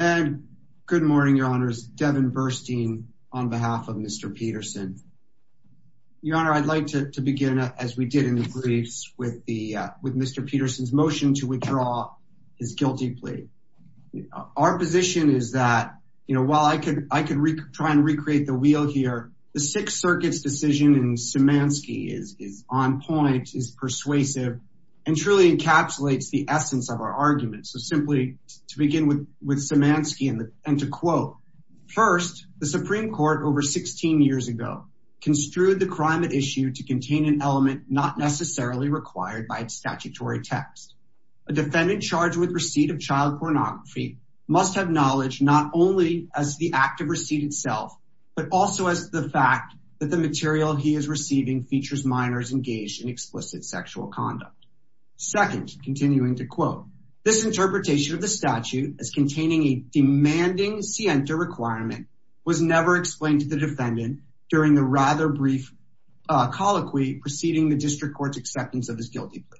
and good morning your honors Devin Burstein on behalf of mr. Peterson your honor I'd like to begin as we did in the briefs with the with mr. Peterson's motion to withdraw his guilty plea our position is that you know while I could I could try and recreate the wheel here the Sixth Circuit's decision and Szymanski is on point is persuasive and truly encapsulates the essence of our argument so simply to begin with with Szymanski and to quote first the Supreme Court over 16 years ago construed the crime at issue to contain an element not necessarily required by its statutory text a defendant charged with receipt of child pornography must have knowledge not only as the act of receipt itself but also as the fact that the material he is receiving features minors engaged in explicit sexual conduct second continuing to quote this interpretation of the statute as containing a demanding scienta requirement was never explained to the defendant during the rather brief colloquy preceding the district court's acceptance of his guilty plea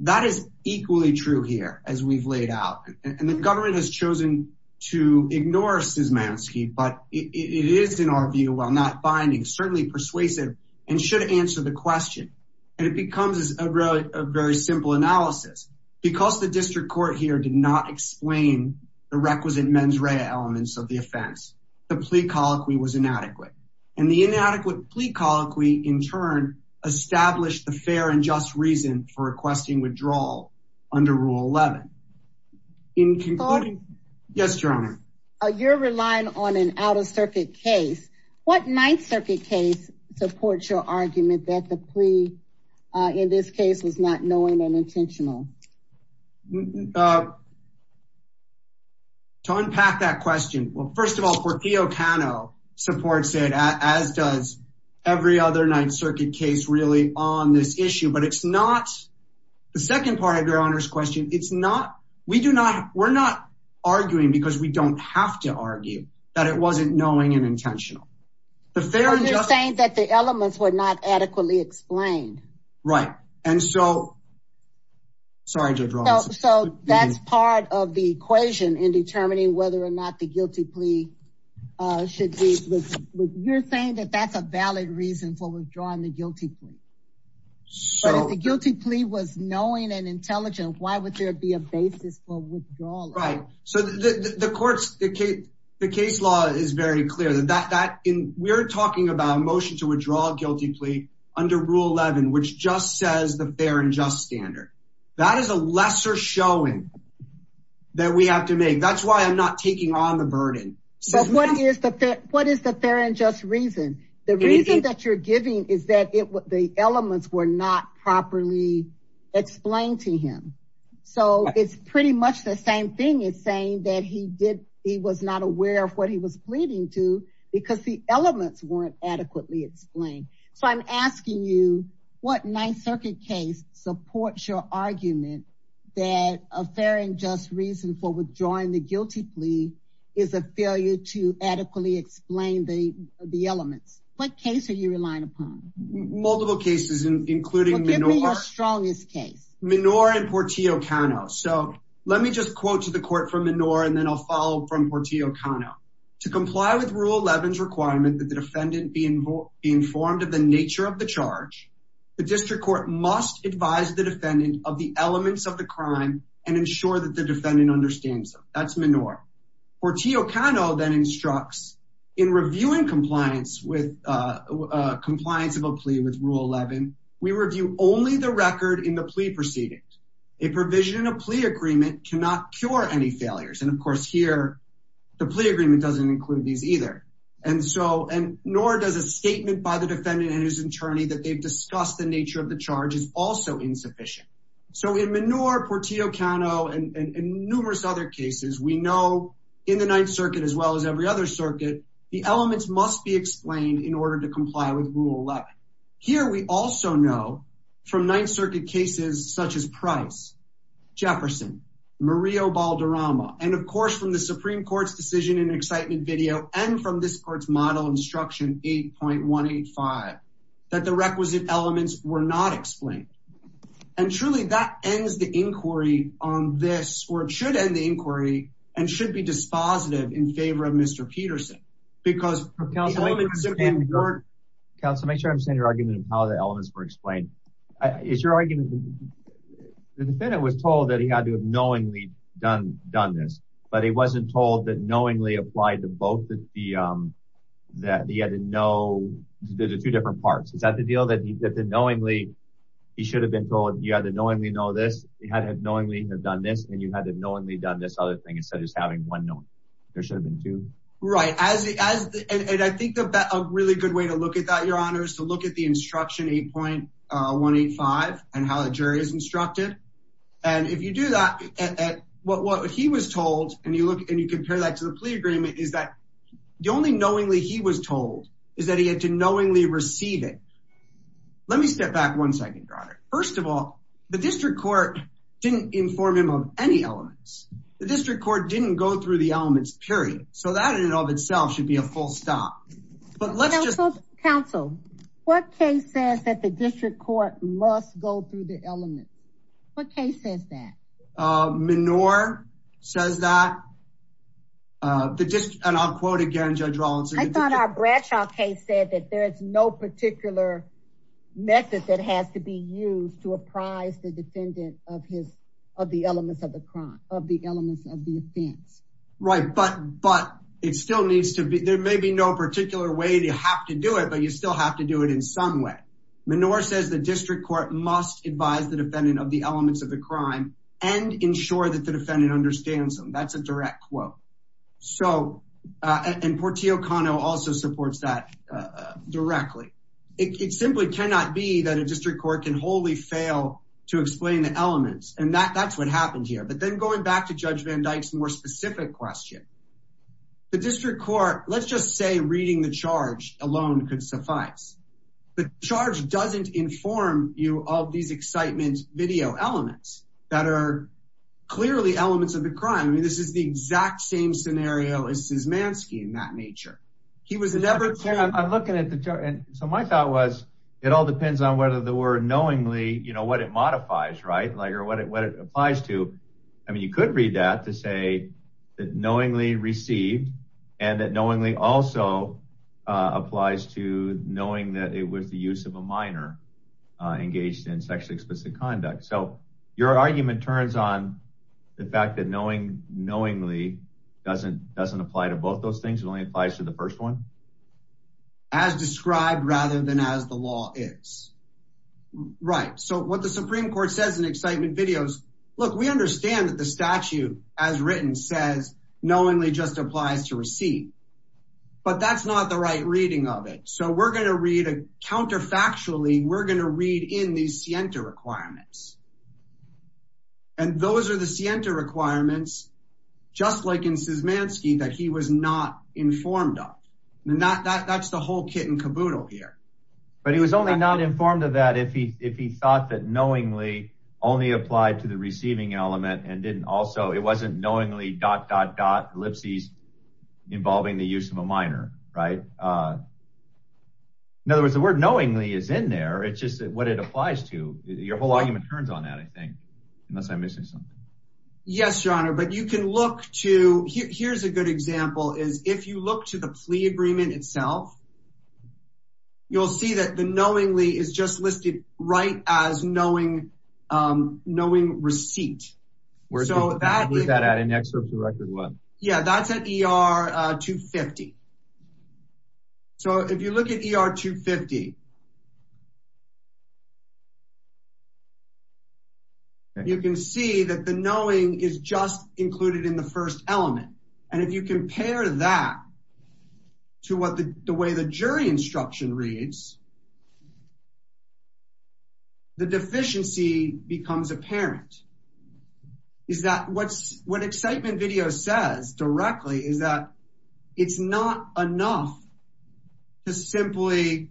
that is equally true here as we've laid out and the government has chosen to ignore Szymanski but it is in our view while not binding certainly persuasive and should answer the question and it becomes a very simple analysis because the district court here did not explain the requisite mens rea elements of the offense the plea colloquy was inadequate and the inadequate plea colloquy in turn established the fair and just reason for requesting withdrawal under Rule 11 in conclusion yes your honor you're relying on an outer circuit case what Ninth Creek in this case was not knowing and intentional to unpack that question well first of all for Theo Cano supports it as does every other Ninth Circuit case really on this issue but it's not the second part of your honors question it's not we do not we're not arguing because we don't have to argue that it wasn't knowing and intentional the fair you're saying that the elements were not adequately explained right and so sorry so that's part of the equation in determining whether or not the guilty plea should be you're saying that that's a valid reason for withdrawing the guilty plea so guilty plea was knowing and intelligent why would there be a basis for withdrawal right so the courts the case the case law is very clear that that in we're talking about a motion to under Rule 11 which just says the fair and just standard that is a lesser showing that we have to make that's why I'm not taking on the burden so what is the fit what is the fair and just reason the reason that you're giving is that it was the elements were not properly explained to him so it's pretty much the same thing is saying that he did he was not aware of what he was pleading to because the elements weren't adequately explained so I'm asking you what Ninth Circuit case supports your argument that a fair and just reason for withdrawing the guilty plea is a failure to adequately explain the the elements what case are you relying upon multiple cases including the strongest case Menorah and Portillo Cano so let me just quote to the court from Menorah and then I'll follow from Portillo Cano to comply with Rule 11's requirement that the defendant be involved be informed of the nature of the charge the district court must advise the defendant of the elements of the crime and ensure that the defendant understands that's Menorah Portillo Cano then instructs in reviewing compliance with compliance of a plea with Rule 11 we review only the record in the plea proceedings a provision a plea agreement cannot cure any failures and of course here the plea agreement doesn't include these either and so and nor does a statement by the defendant and his attorney that they've discussed the nature of the charge is also insufficient so in Menorah Portillo Cano and numerous other cases we know in the Ninth Circuit as well as every other circuit the elements must be explained in order to comply with Rule 11 here we also know from Ninth Circuit cases such as price Jefferson Murillo Balderrama and of course from the Supreme Court's decision in excitement video and from this court's model instruction 8.185 that the requisite elements were not explained and truly that ends the inquiry on this or it should end the inquiry and should be dispositive in favor of mr. Peterson because counsel make sure I'm saying your argument of how the elements were explained is your argument the defendant was told that he had to have knowingly done done this but he wasn't told that knowingly applied to both of the that he had to know there's a two different parts is that the deal that he did the knowingly he should have been told you had to knowingly know this he had had knowingly have done this and you had to knowingly done this other thing instead of just having one no there should have been two right as I think about a really good way to look at that your honors to look at the instruction 8.185 and how the jury is instructed and if you do that at what what he was told and you look and you compare that to the plea agreement is that the only knowingly he was told is that he had to knowingly receive it let me step back one second first of all the district court didn't inform him of any elements the district court didn't go through the elements period so that in and of itself should be a full stop but let's just counsel what case says that the district court must go through the element what case says that manure says that the dish and I'll quote again judge Rollins I thought our Bradshaw case said that there's no particular method that has to be used to apprise the defendant of his of the elements of the crime of the elements of the offense right but but it still needs to be there may be no particular way to have to do it but you still have to do it in some way manure says the district court must advise the defendant of the elements of the crime and ensure that the defendant understands them that's a direct quote so and Portillo Kano also supports that directly it simply cannot be that a district court can wholly fail to explain the elements and that that's what happened here but then going back to judge van Dyck's more specific question the district court let's just say reading the charge alone could suffice the charge doesn't inform you all these excitement video elements that are clearly elements of the crime I mean this is the exact same scenario as his man skiing that nature he was never I'm looking at the jar and so my thought was it all depends on whether the word knowingly you know what it modifies right like or what it what it applies to I mean you could read that to say that knowingly received and that knowingly also applies to knowing that it was the use of a minor engaged in sexually explicit conduct so your argument turns on the fact that knowing knowingly doesn't doesn't apply to both those things only applies to the first one as described rather than as the law is right so what the Supreme Court says in excitement videos look we understand that the statute as written says knowingly just applies to receive but that's not the right reading of it so we're gonna read a counterfactually we're gonna read in these Sienta requirements and those are the Sienta requirements just like in Siesmanski that he was not informed of not that that's the whole kit and caboodle here but he was only not informed of that if he thought that knowingly only applied to the receiving element and didn't also it wasn't knowingly dot-dot-dot ellipses involving the use of a minor right in other words the word knowingly is in there it's just what it applies to your whole argument turns on that I think unless I'm missing something yes your honor but you can look to here's a good example is if you look to the plea right as knowing knowing receipt we're so bad with that at an excerpt to record what yeah that's at er 250 so if you look at er 250 you can see that the knowing is just included in the first element and if you the deficiency becomes apparent is that what's what excitement video says directly is that it's not enough to simply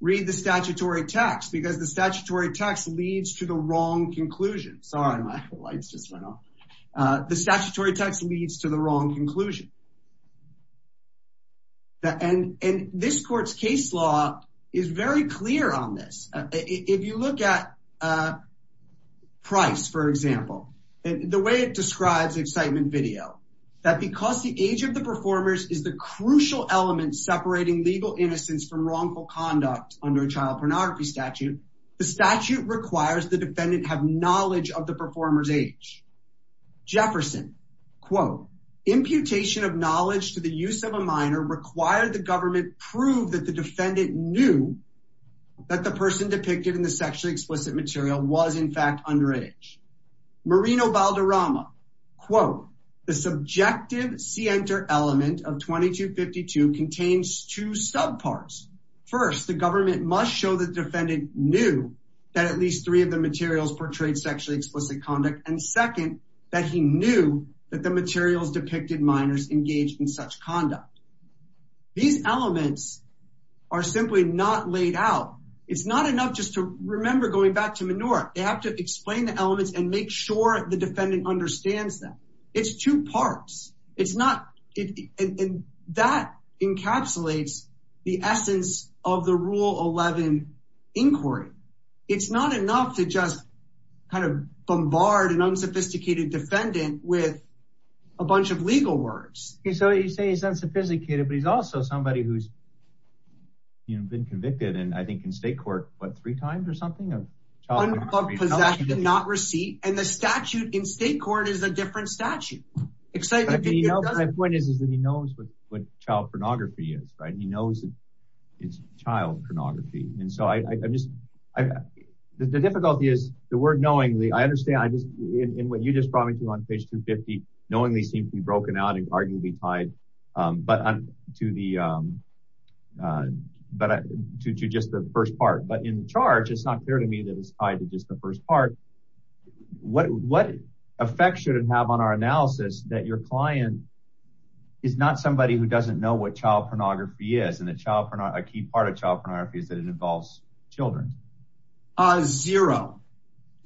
read the statutory text because the statutory text leads to the wrong conclusion sorry my lights just went off the statutory text leads to the wrong conclusion and and this court's case law is very clear on this if you look at price for example and the way it describes excitement video that because the age of the performers is the crucial element separating legal innocence from wrongful conduct under a child pornography statute the statute requires the defendant have knowledge of the performers age Jefferson quote imputation of knowledge to the use of a that the person depicted in the sexually explicit material was in fact underage marino balderrama quote the subjective see enter element of 2252 contains two subparts first the government must show the defendant knew that at least three of the materials portrayed sexually explicit conduct and second that he knew that the materials depicted minors engaged in such conduct these elements are simply not laid out it's not enough just to remember going back to manure they have to explain the elements and make sure the defendant understands that it's two parts it's not it and that encapsulates the essence of the rule 11 inquiry it's not enough to just kind of bombard an unsophisticated defendant with a bunch of legal words so you say it's unsophisticated but he's also somebody who's you know been convicted and I think in state court but three times or something of possession not receipt and the statute in state court is a different statute excited you know my point is is that he knows what what child pornography is right he knows it's child pornography and so I just I the difficulty is the word knowingly I understand I just in what you just brought me to on page 250 knowingly seems to be broken out and arguably tied but to the but to just the first part but in charge it's not clear to me that it's tied to just the first part what what effect should it have on our analysis that your client is not somebody who doesn't know what child pornography is and the child for not a key part of child pornography is that it involves children zero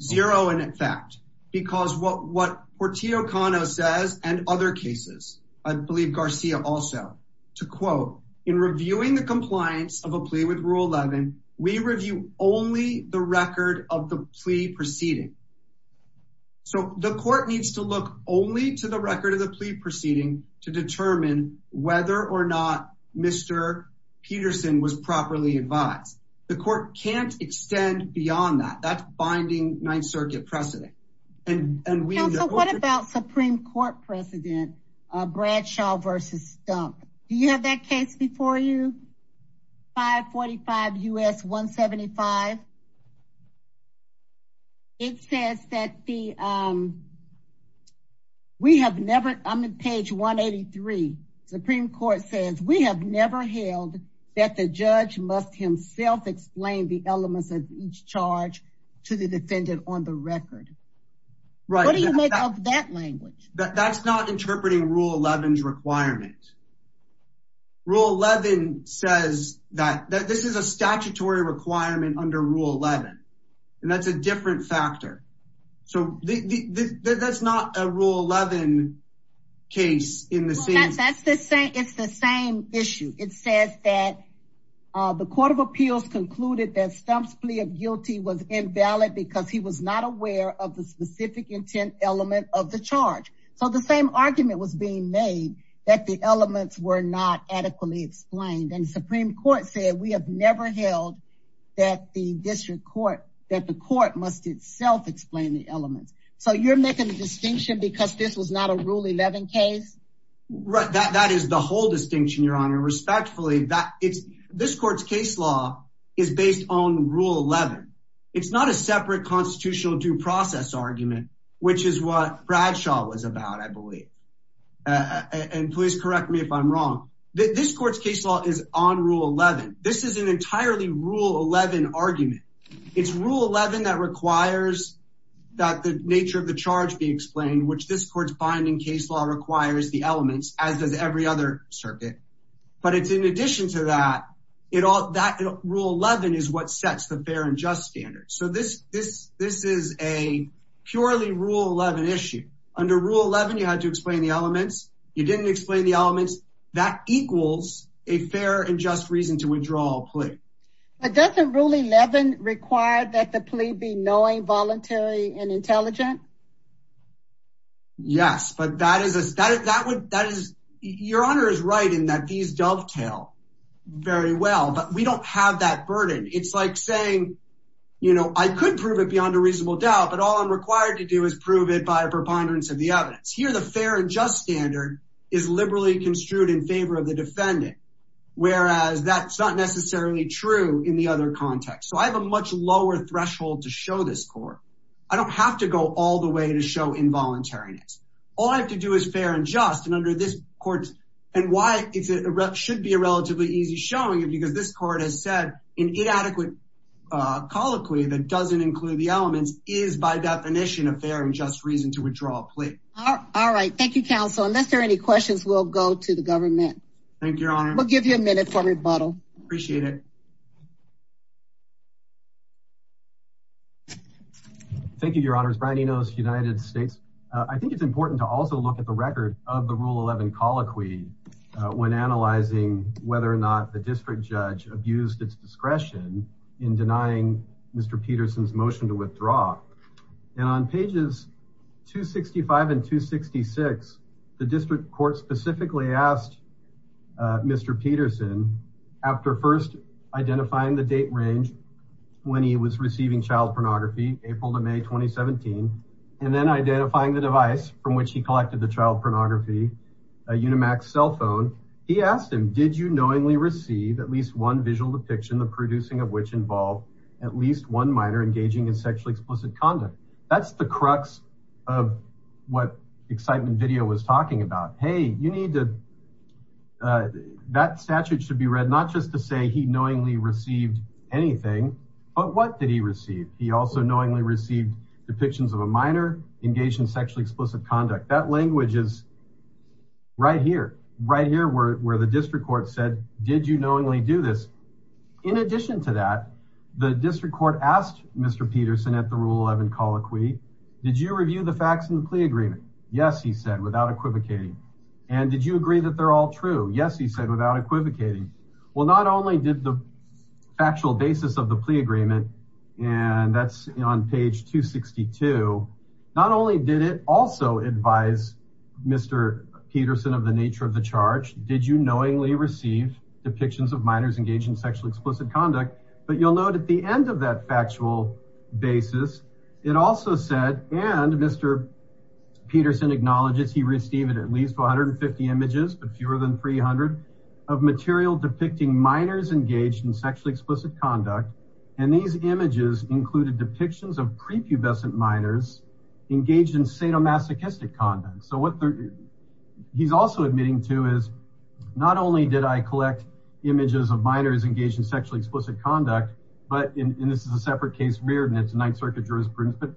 zero and in fact because what what Portia O'Connor says and other cases I believe Garcia also to quote in reviewing the compliance of a plea with rule 11 we review only the record of the plea proceeding so the court needs to look only to the record of the plea proceeding to determine whether or not mr. Peterson was properly advised the court can't extend beyond that that's binding Ninth Circuit precedent and what about Supreme Court precedent Bradshaw versus stump you have that case before you 545 u.s. 175 it says that the we have never I'm in page 183 Supreme Court says we have never held that the judge must himself explain the elements of each charge to the defendant on the record right what do you make of that language that's not interpreting rule 11's requirement rule 11 says that this is a statutory requirement under rule 11 and that's a different factor so the that's not a rule 11 case in the same it's the same issue it says that the Court of Appeals concluded that stumps plea of guilty was invalid because he was not aware of the specific intent element of the charge so the same argument was being made that the elements were not adequately explained and Supreme Court said we have never held that the district court that the court must itself explain the elements so you're making a distinction because this was not a rule 11 case right that that is the whole distinction your honor respectfully that it's this court's case law is based on rule 11 it's not a separate constitutional due process argument which is what Bradshaw was about I believe and please correct me if I'm wrong this court's case law is on rule 11 this is an entirely rule 11 argument it's rule 11 that requires that the nature of the charge be explained which this court's binding case law requires the elements as does every other circuit but it's in addition to that it all that rule 11 is what sets the fair and just standard so this this this is a purely rule 11 issue under rule 11 you had to explain the elements you didn't explain the elements that rule 11 required that the plea be knowing voluntary and intelligent yes but that is that is that what that is your honor is right in that these dovetail very well but we don't have that burden it's like saying you know I could prove it beyond a reasonable doubt but all I'm required to do is prove it by a preponderance of the evidence here the fair and just standard is liberally construed in favor of the defendant whereas that's not necessarily true in the other context so I have a much lower threshold to show this court I don't have to go all the way to show involuntariness all I have to do is fair and just and under this court and why it should be a relatively easy showing it because this court has said in inadequate colloquy that doesn't include the elements is by definition a fair and just reason to withdraw plea all right thank you counsel unless there are any questions we'll go to the government thank your honor we'll give you a minute for rebuttal appreciate it thank you your honor's brownie knows United States I think it's important to also look at the record of the rule 11 colloquy when analyzing whether or not the district judge abused its discretion in denying mr. Peterson's motion to mr. Peterson after first identifying the date range when he was receiving child pornography April to May 2017 and then identifying the device from which he collected the child pornography a unimax cell phone he asked him did you knowingly receive at least one visual depiction the producing of which involved at least one minor engaging in sexually explicit conduct that's the crux of what excitement video was talking about hey you need to that statute should be read not just to say he knowingly received anything but what did he receive he also knowingly received depictions of a minor engaged in sexually explicit conduct that language is right here right here where the district court said did you knowingly do this in addition to that the district court asked mr. Peterson at the rule 11 colloquy did you review the facts in the plea agreement yes he said without equivocating and did you agree that they're all true yes he said without equivocating well not only did the factual basis of the plea agreement and that's on page 262 not only did it also advise mr. Peterson of the nature of the charge did you knowingly receive depictions of minors engaged in sexually explicit conduct but you'll note at the end of that factual basis it also said and mr. Peterson acknowledges he received at least 150 images but fewer than 300 of material depicting minors engaged in sexually explicit conduct and these images included depictions of prepubescent minors engaged in sadomasochistic conduct so what he's also admitting to is not only did I sexually explicit conduct but in this is a separate case reared and it's a Ninth Circuit jurisprudence but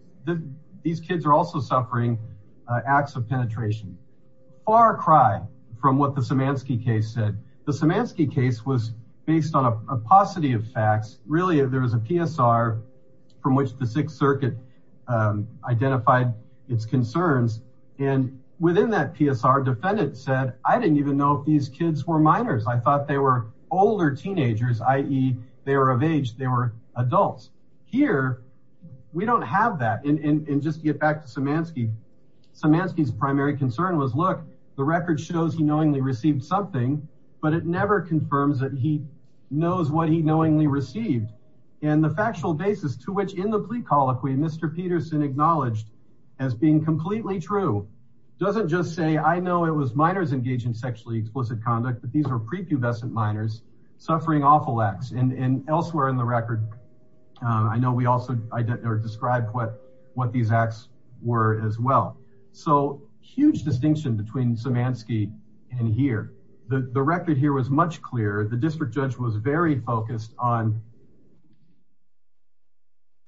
these kids are also suffering acts of penetration far cry from what the Samansky case said the Samansky case was based on a paucity of facts really if there was a PSR from which the Sixth Circuit identified its concerns and within that PSR defendant said I didn't even know if these kids were minors I thought they were older teenagers ie they were of age they were adults here we don't have that and just get back to Samansky Samansky's primary concern was look the record shows he knowingly received something but it never confirms that he knows what he knowingly received and the factual basis to which in the plea colloquy mr. Peterson acknowledged as being completely true doesn't just say I know it was minors engaged in sexually explicit conduct but these are prepubescent minors suffering awful acts and elsewhere in the record I know we also identified or described what what these acts were as well so huge distinction between Samansky and here the the record here was much clearer the district judge was very focused on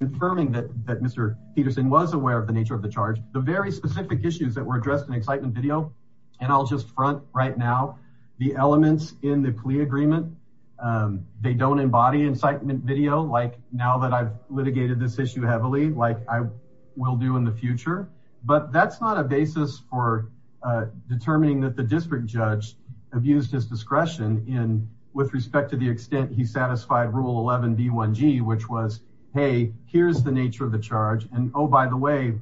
confirming that that mr. Peterson was aware of the nature of the charge the very specific issues that were addressed in excitement video and I'll just front right now the elements in the plea agreement they don't embody incitement video like now that I've litigated this issue heavily like I will do in the future but that's not a basis for determining that the district judge abused his discretion in with respect to the extent he satisfied rule 11b 1g which was hey here's the nature of the charge and oh by the way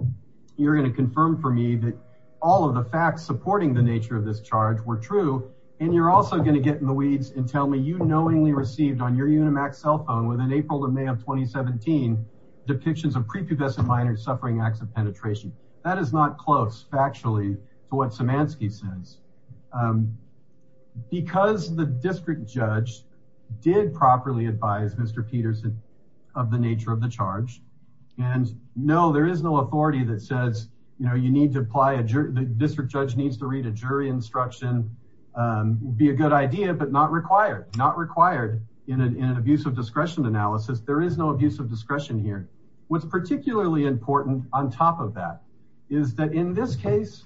you're gonna confirm for me that all of the facts supporting the nature of this charge were true and you're also going to get in the weeds and tell me you knowingly received on your unimax cell phone within April to May of 2017 depictions of prepubescent minors suffering acts of penetration that is not close factually to what Samansky says because the district judge did properly advise mr. nature of the charge and no there is no authority that says you know you need to apply a district judge needs to read a jury instruction be a good idea but not required not required in an abuse of discretion analysis there is no abuse of discretion here what's particularly important on top of that is that in this case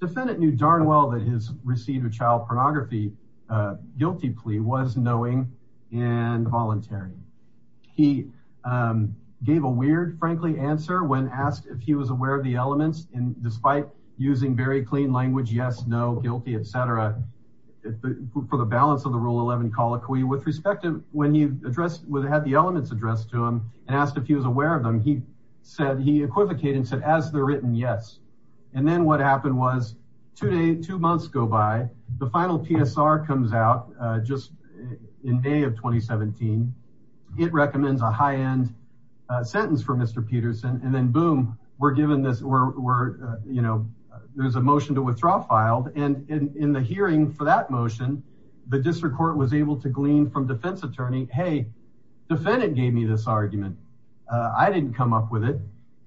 defendant knew darn well that his received a child pornography guilty plea was knowing and voluntary he gave a weird frankly answer when asked if he was aware of the elements and despite using very clean language yes no guilty etc for the balance of the rule 11 call it cool you with respect to when he addressed with had the elements addressed to him and asked if he was aware of them he said he equivocating said as the written yes and then what in May of 2017 it recommends a high-end sentence for mr. Peterson and then boom we're given this we're you know there's a motion to withdraw filed and in the hearing for that motion the district court was able to glean from defense attorney hey defendant gave me this argument I didn't come up with it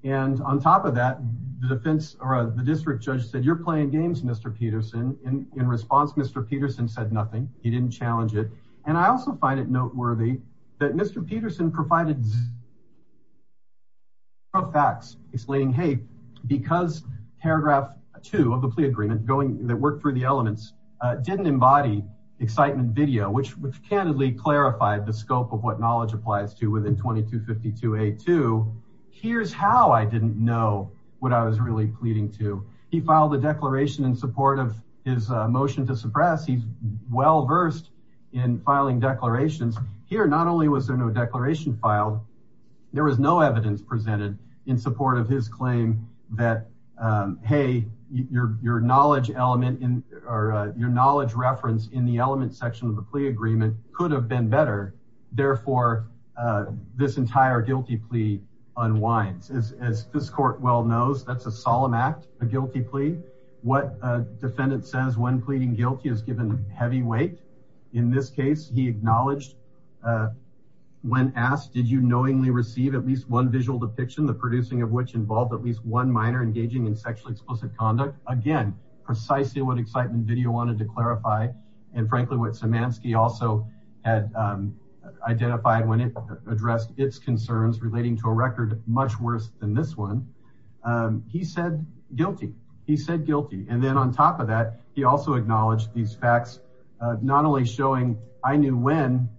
and on top of that the defense or the district judge said you're playing games mr. Peterson in response mr. Peterson said nothing he didn't challenge it and I also find it noteworthy that mr. Peterson provided of facts explaining hey because paragraph 2 of the plea agreement going that worked for the elements didn't embody excitement video which which candidly clarified the scope of what knowledge applies to within 2252 a to here's how I didn't know what I was really pleading to he filed a declaration in support of his motion to suppress he's well-versed in filing declarations here not only was there no declaration filed there was no evidence presented in support of his claim that hey your knowledge element in or your knowledge reference in the element section of the plea agreement could have been better therefore this entire guilty plea unwinds as this court well knows that's solemn act a guilty plea what defendant says when pleading guilty is given the heavy weight in this case he acknowledged when asked did you knowingly receive at least one visual depiction the producing of which involved at least one minor engaging in sexually explicit conduct again precisely what excitement video wanted to clarify and frankly what Samansky also had identified when it addressed its concerns relating to a record much worse than this one he said guilty he said guilty and then on top of that he also acknowledged these facts not only showing I knew when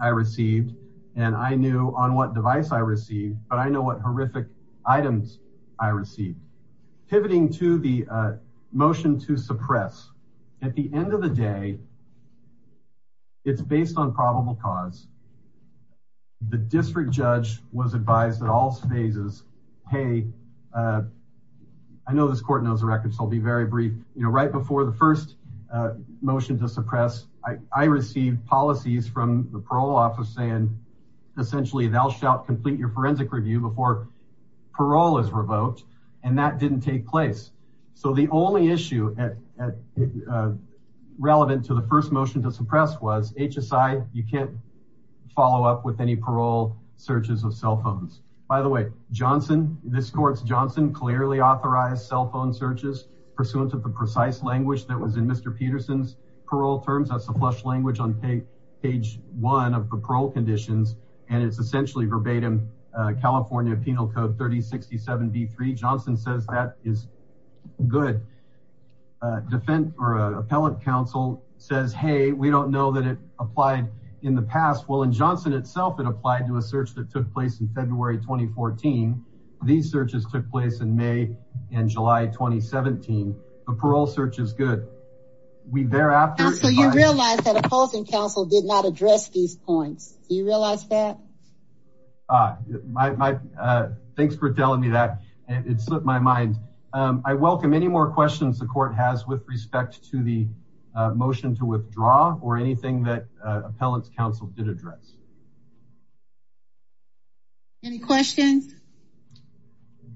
I received and I knew on what device I receive but I know what horrific items I received pivoting to the motion to suppress at the end of the day it's based on probable cause the hey I know this court knows the record so I'll be very brief you know right before the first motion to suppress I received policies from the parole office saying essentially thou shalt complete your forensic review before parole is revoked and that didn't take place so the only issue at relevant to the first motion to suppress was HSI you can't follow up with any parole searches of cell phones by the way Johnson this courts Johnson clearly authorized cell phone searches pursuant to the precise language that was in mr. Peterson's parole terms that's a flush language on page one of the parole conditions and it's essentially verbatim California Penal Code 3067 d3 Johnson says that is good defend or appellant counsel says hey we don't know that it applied in the past well in Johnson itself it applied to a search that took place in February 2014 these searches took place in May and July 2017 the parole search is good we thereafter so you realize that opposing counsel did not address these points you realize that my thanks for telling me that it slipped my mind I welcome any more questions the court has with respect to the motion to withdraw or anything that appellants counsel did address any questions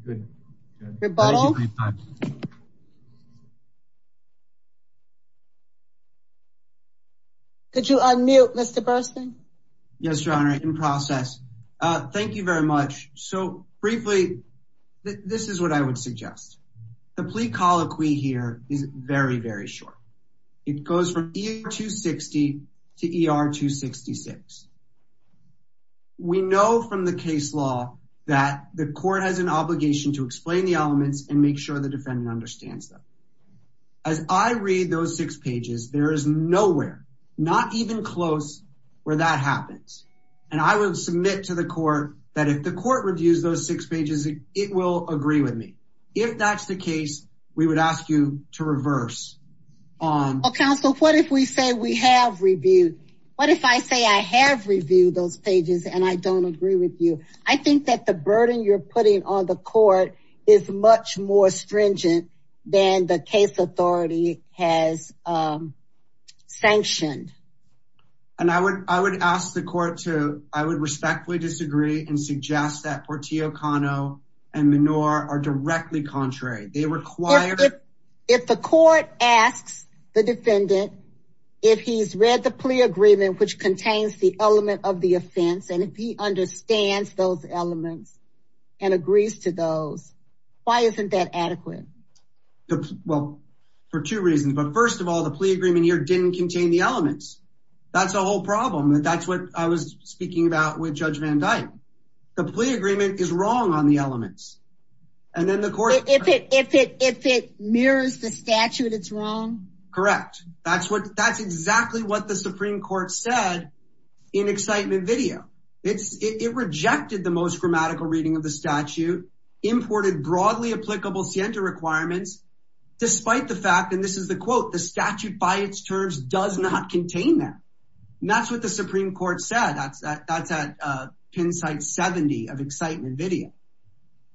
could you unmute mr. Burstyn yes your honor in process thank you very much so briefly this is what I would suggest the plea colloquy here is very very short it case law that the court has an obligation to explain the elements and make sure the defendant understands them as I read those six pages there is nowhere not even close where that happens and I will submit to the court that if the court reviews those six pages it will agree with me if that's the case we would ask you to reverse on counsel what if we say we have reviewed what if I say I have reviewed those pages and I don't agree with you I think that the burden you're putting on the court is much more stringent than the case authority has sanctioned and I would I would ask the court to I would respectfully disagree and suggest that Portia O'Connor and manure are directly contrary they require if the court asks the defendant if he's read the plea agreement which contains the element of the offense and if he understands those elements and agrees to those why isn't that adequate well for two reasons but first of all the plea agreement here didn't contain the elements that's the whole problem that that's what I was speaking about with judge van dyke the plea agreement is wrong on the elements and then the court if it if it if it mirrors the statute it's wrong correct that's what that's exactly what the Supreme Court said in excitement video it's it rejected the most grammatical reading of the statute imported broadly applicable scienta requirements despite the fact and this is the quote the statute by its terms does not contain that and that's what the Supreme Court said that's that that's at pin site 70 of excitement video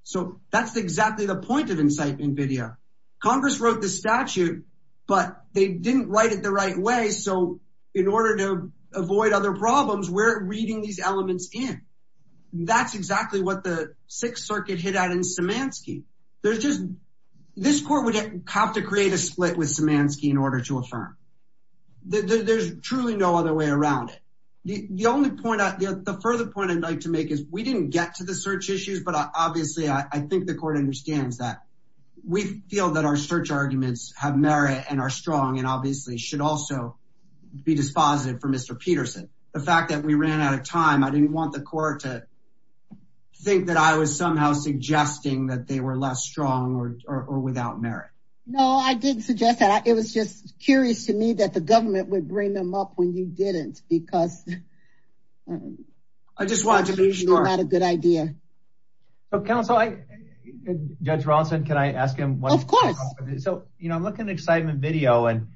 so that's exactly the point of incitement video Congress wrote the statute but they didn't write it the right way so in order to avoid other problems we're reading these elements in that's exactly what the Sixth Circuit hit out in Samansky there's just this court would have to create a split with Samansky in order to affirm that there's truly no other way around it the only point out the further point I'd like to make is we didn't get to the search issues but obviously I think the court understands that we feel that our search arguments have merit and are strong and obviously should also be dispositive for mr. Peterson the fact that we ran out of time I didn't want the court to think that I was somehow suggesting that they were less strong or without merit no I didn't suggest that it was just curious to me that the government would bring them up when you didn't because I just want to be sure a good idea so counsel I judge Ronson can I ask him what of course so you know I'm looking at excitement video and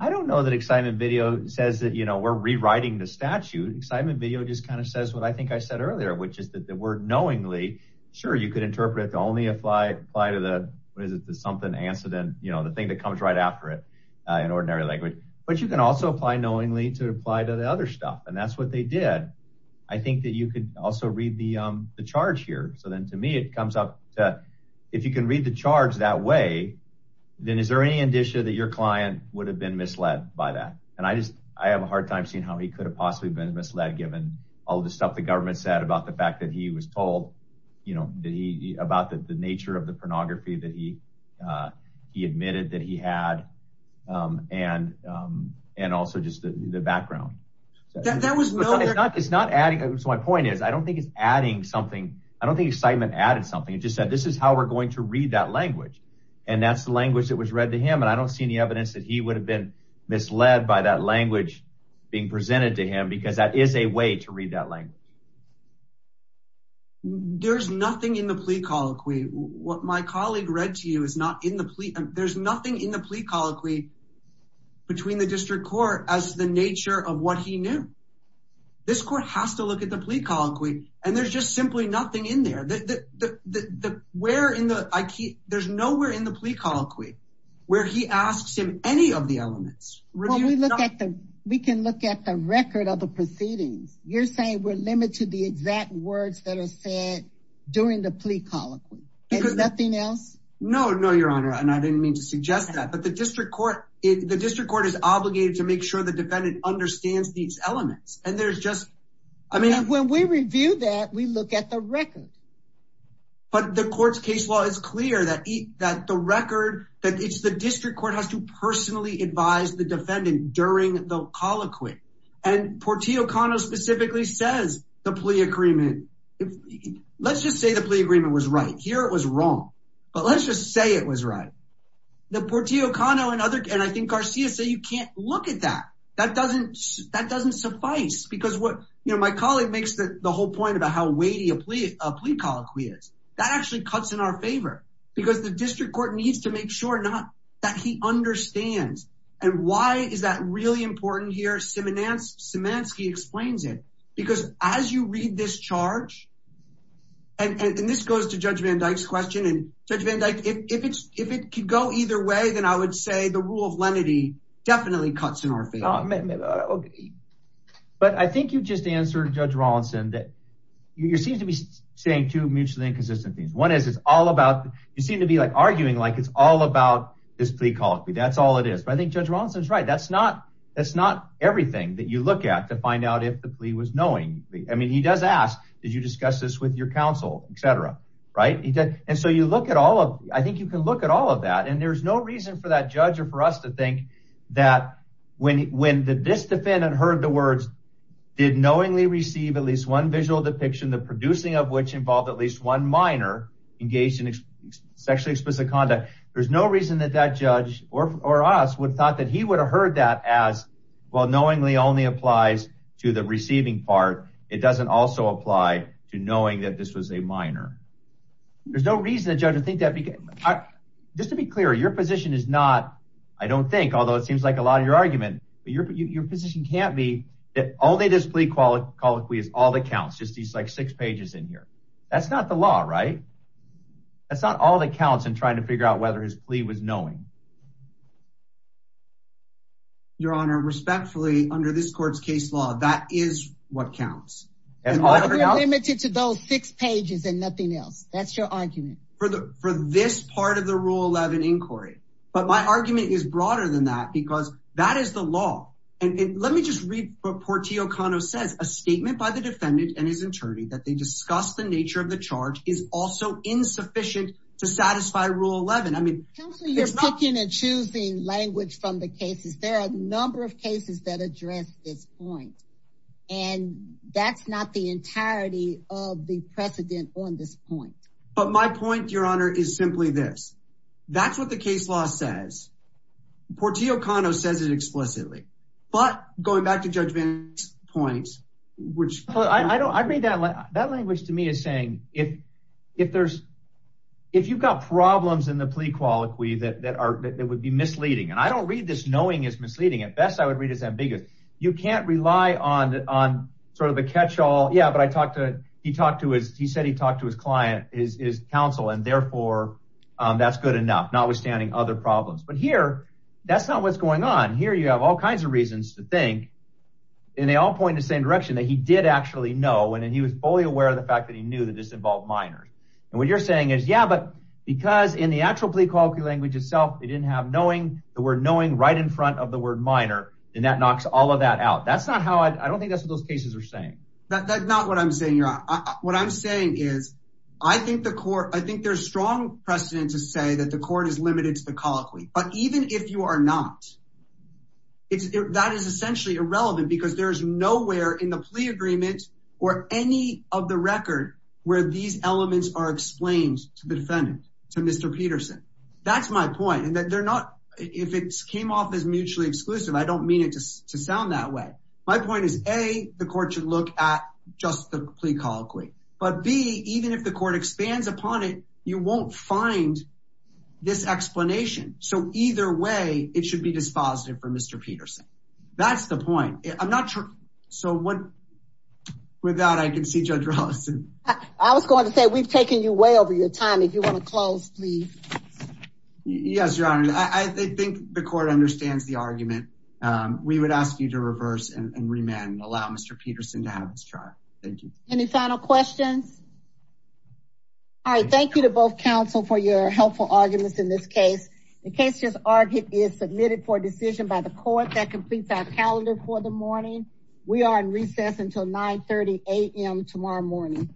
I don't know that excitement video says that you know we're rewriting the statute excitement video just kind of says what I think I said earlier which is that the word knowingly sure you could interpret the only apply apply to the what is it the something answer then you know the thing that comes right after it in ordinary language but you can also apply knowingly to apply to the other stuff and that's what they did I think that you could also read the the charge here so then to me it comes up that if you can read the charge that way then is there any indicia that your client would have been misled by that and I just I have a hard time seeing how he could have possibly been misled given all the stuff the government said about the fact that he was told you know the about the nature of the pornography that he he admitted that he had and and also just the background that was not it's not adding so my point is I don't think it's adding something I don't think excitement added something it just said this is how we're going to read that language and that's the language that was read to him and I don't see any evidence that he would have been misled by that language being presented to him because that is a way to read that language there's nothing in the plea colloquy what my colleague read to you is not in the plea there's nothing in the plea colloquy between the district court as the nature of what he knew this court has to look at the plea colloquy and there's just simply nothing in there that the where in the I keep there's nowhere in the plea colloquy where he asks him any of the elements when we look at them we can look at the record of the proceedings you're saying we're limited the exact words that are said during the plea colloquy there's nothing else no no your honor and I didn't mean to suggest that but the district court the district court is obligated to make sure the defendant understands these elements and there's just I mean when we review that we look at the record but the court's case law is clear that eat that the record that it's the district court has to personally advise the defendant during the colloquy and Portia O'Connor specifically says the plea agreement let's just say the plea agreement was right here it was wrong but let's just say it was right the Portia O'Connor and other and I think Garcia say you can't look at that that doesn't that doesn't suffice because what you know my colleague makes that the whole point about how weighty a plea a plea colloquy is that actually cuts in our favor because the district court needs to make sure not that he understands and why is that really important here Simmons Samansky explains it because as you read this charge and this goes to judge Van Dyke's question and judge Van Dyke if it's if either way then I would say the rule of lenity definitely cuts in our favor but I think you just answered judge Rawlinson that you seem to be saying to mutually inconsistent things one is it's all about you seem to be like arguing like it's all about this plea call it be that's all it is but I think judge Rawlinson is right that's not that's not everything that you look at to find out if the plea was knowing I mean he does ask did you discuss this with your counsel etc right he did and so you look at all of I think you can look at all of that and there's no reason for that judge or for us to think that when when did this defendant heard the words did knowingly receive at least one visual depiction the producing of which involved at least one minor engaged in sexually explicit conduct there's no reason that that judge or us would thought that he would have heard that as well knowingly only applies to the receiving part it doesn't also apply to knowing that this was a minor there's no reason to judge I think that because I just to be clear your position is not I don't think although it seems like a lot of your argument your position can't be that all they display quality is all that counts just these like six pages in here that's not the law right that's not all that counts in trying to figure out whether his plea was knowing your honor respectfully under this courts case law that is what counts and limited to those six pages and nothing else that's your argument for the for this part of the rule 11 inquiry but my argument is broader than that because that is the law and let me just read what Portia O'Connor says a statement by the defendant and his attorney that they discussed the nature of the charge is also insufficient to satisfy rule 11 I mean you're talking and choosing language from the cases there are a number of cases that address this point and that's not the entirety of the but my point your honor is simply this that's what the case law says Portia O'Connor says it explicitly but going back to judgment points which I don't I read that that language to me is saying if if there's if you've got problems in the plea quality that are that would be misleading and I don't read this knowing is misleading at best I would read as ambiguous you can't rely on on sort of catch-all yeah but I talked to he talked to his he said he talked to his client is his counsel and therefore that's good enough notwithstanding other problems but here that's not what's going on here you have all kinds of reasons to think and they all point the same direction that he did actually know and he was fully aware of the fact that he knew that this involved minors and what you're saying is yeah but because in the actual plea quality language itself they didn't have knowing the word knowing right in front of the word minor and that knocks all of that out that's not how I don't think that's what those cases are saying that's not what I'm saying you're on what I'm saying is I think the court I think there's strong precedent to say that the court is limited to the colloquy but even if you are not it's that is essentially irrelevant because there's nowhere in the plea agreement or any of the record where these elements are explained to the defendant to mr. Peterson that's my point and that they're not if it came off as mutually exclusive I don't mean it just to sound that way my point is a the court should look at just the plea colloquy but be even if the court expands upon it you won't find this explanation so either way it should be dispositive for mr. Peterson that's the point I'm not sure so what without I can see judge Rosson I was going to say we've taken you way over your time if you want to close please yes your honor I think the court understands the argument we would ask you to reverse and remand and allow mr. Peterson to have this chart thank you any final questions all right thank you to both counsel for your helpful arguments in this case the case just argued is submitted for decision by the court that completes our calendar for the morning we are in recess until 930 a.m. tomorrow morning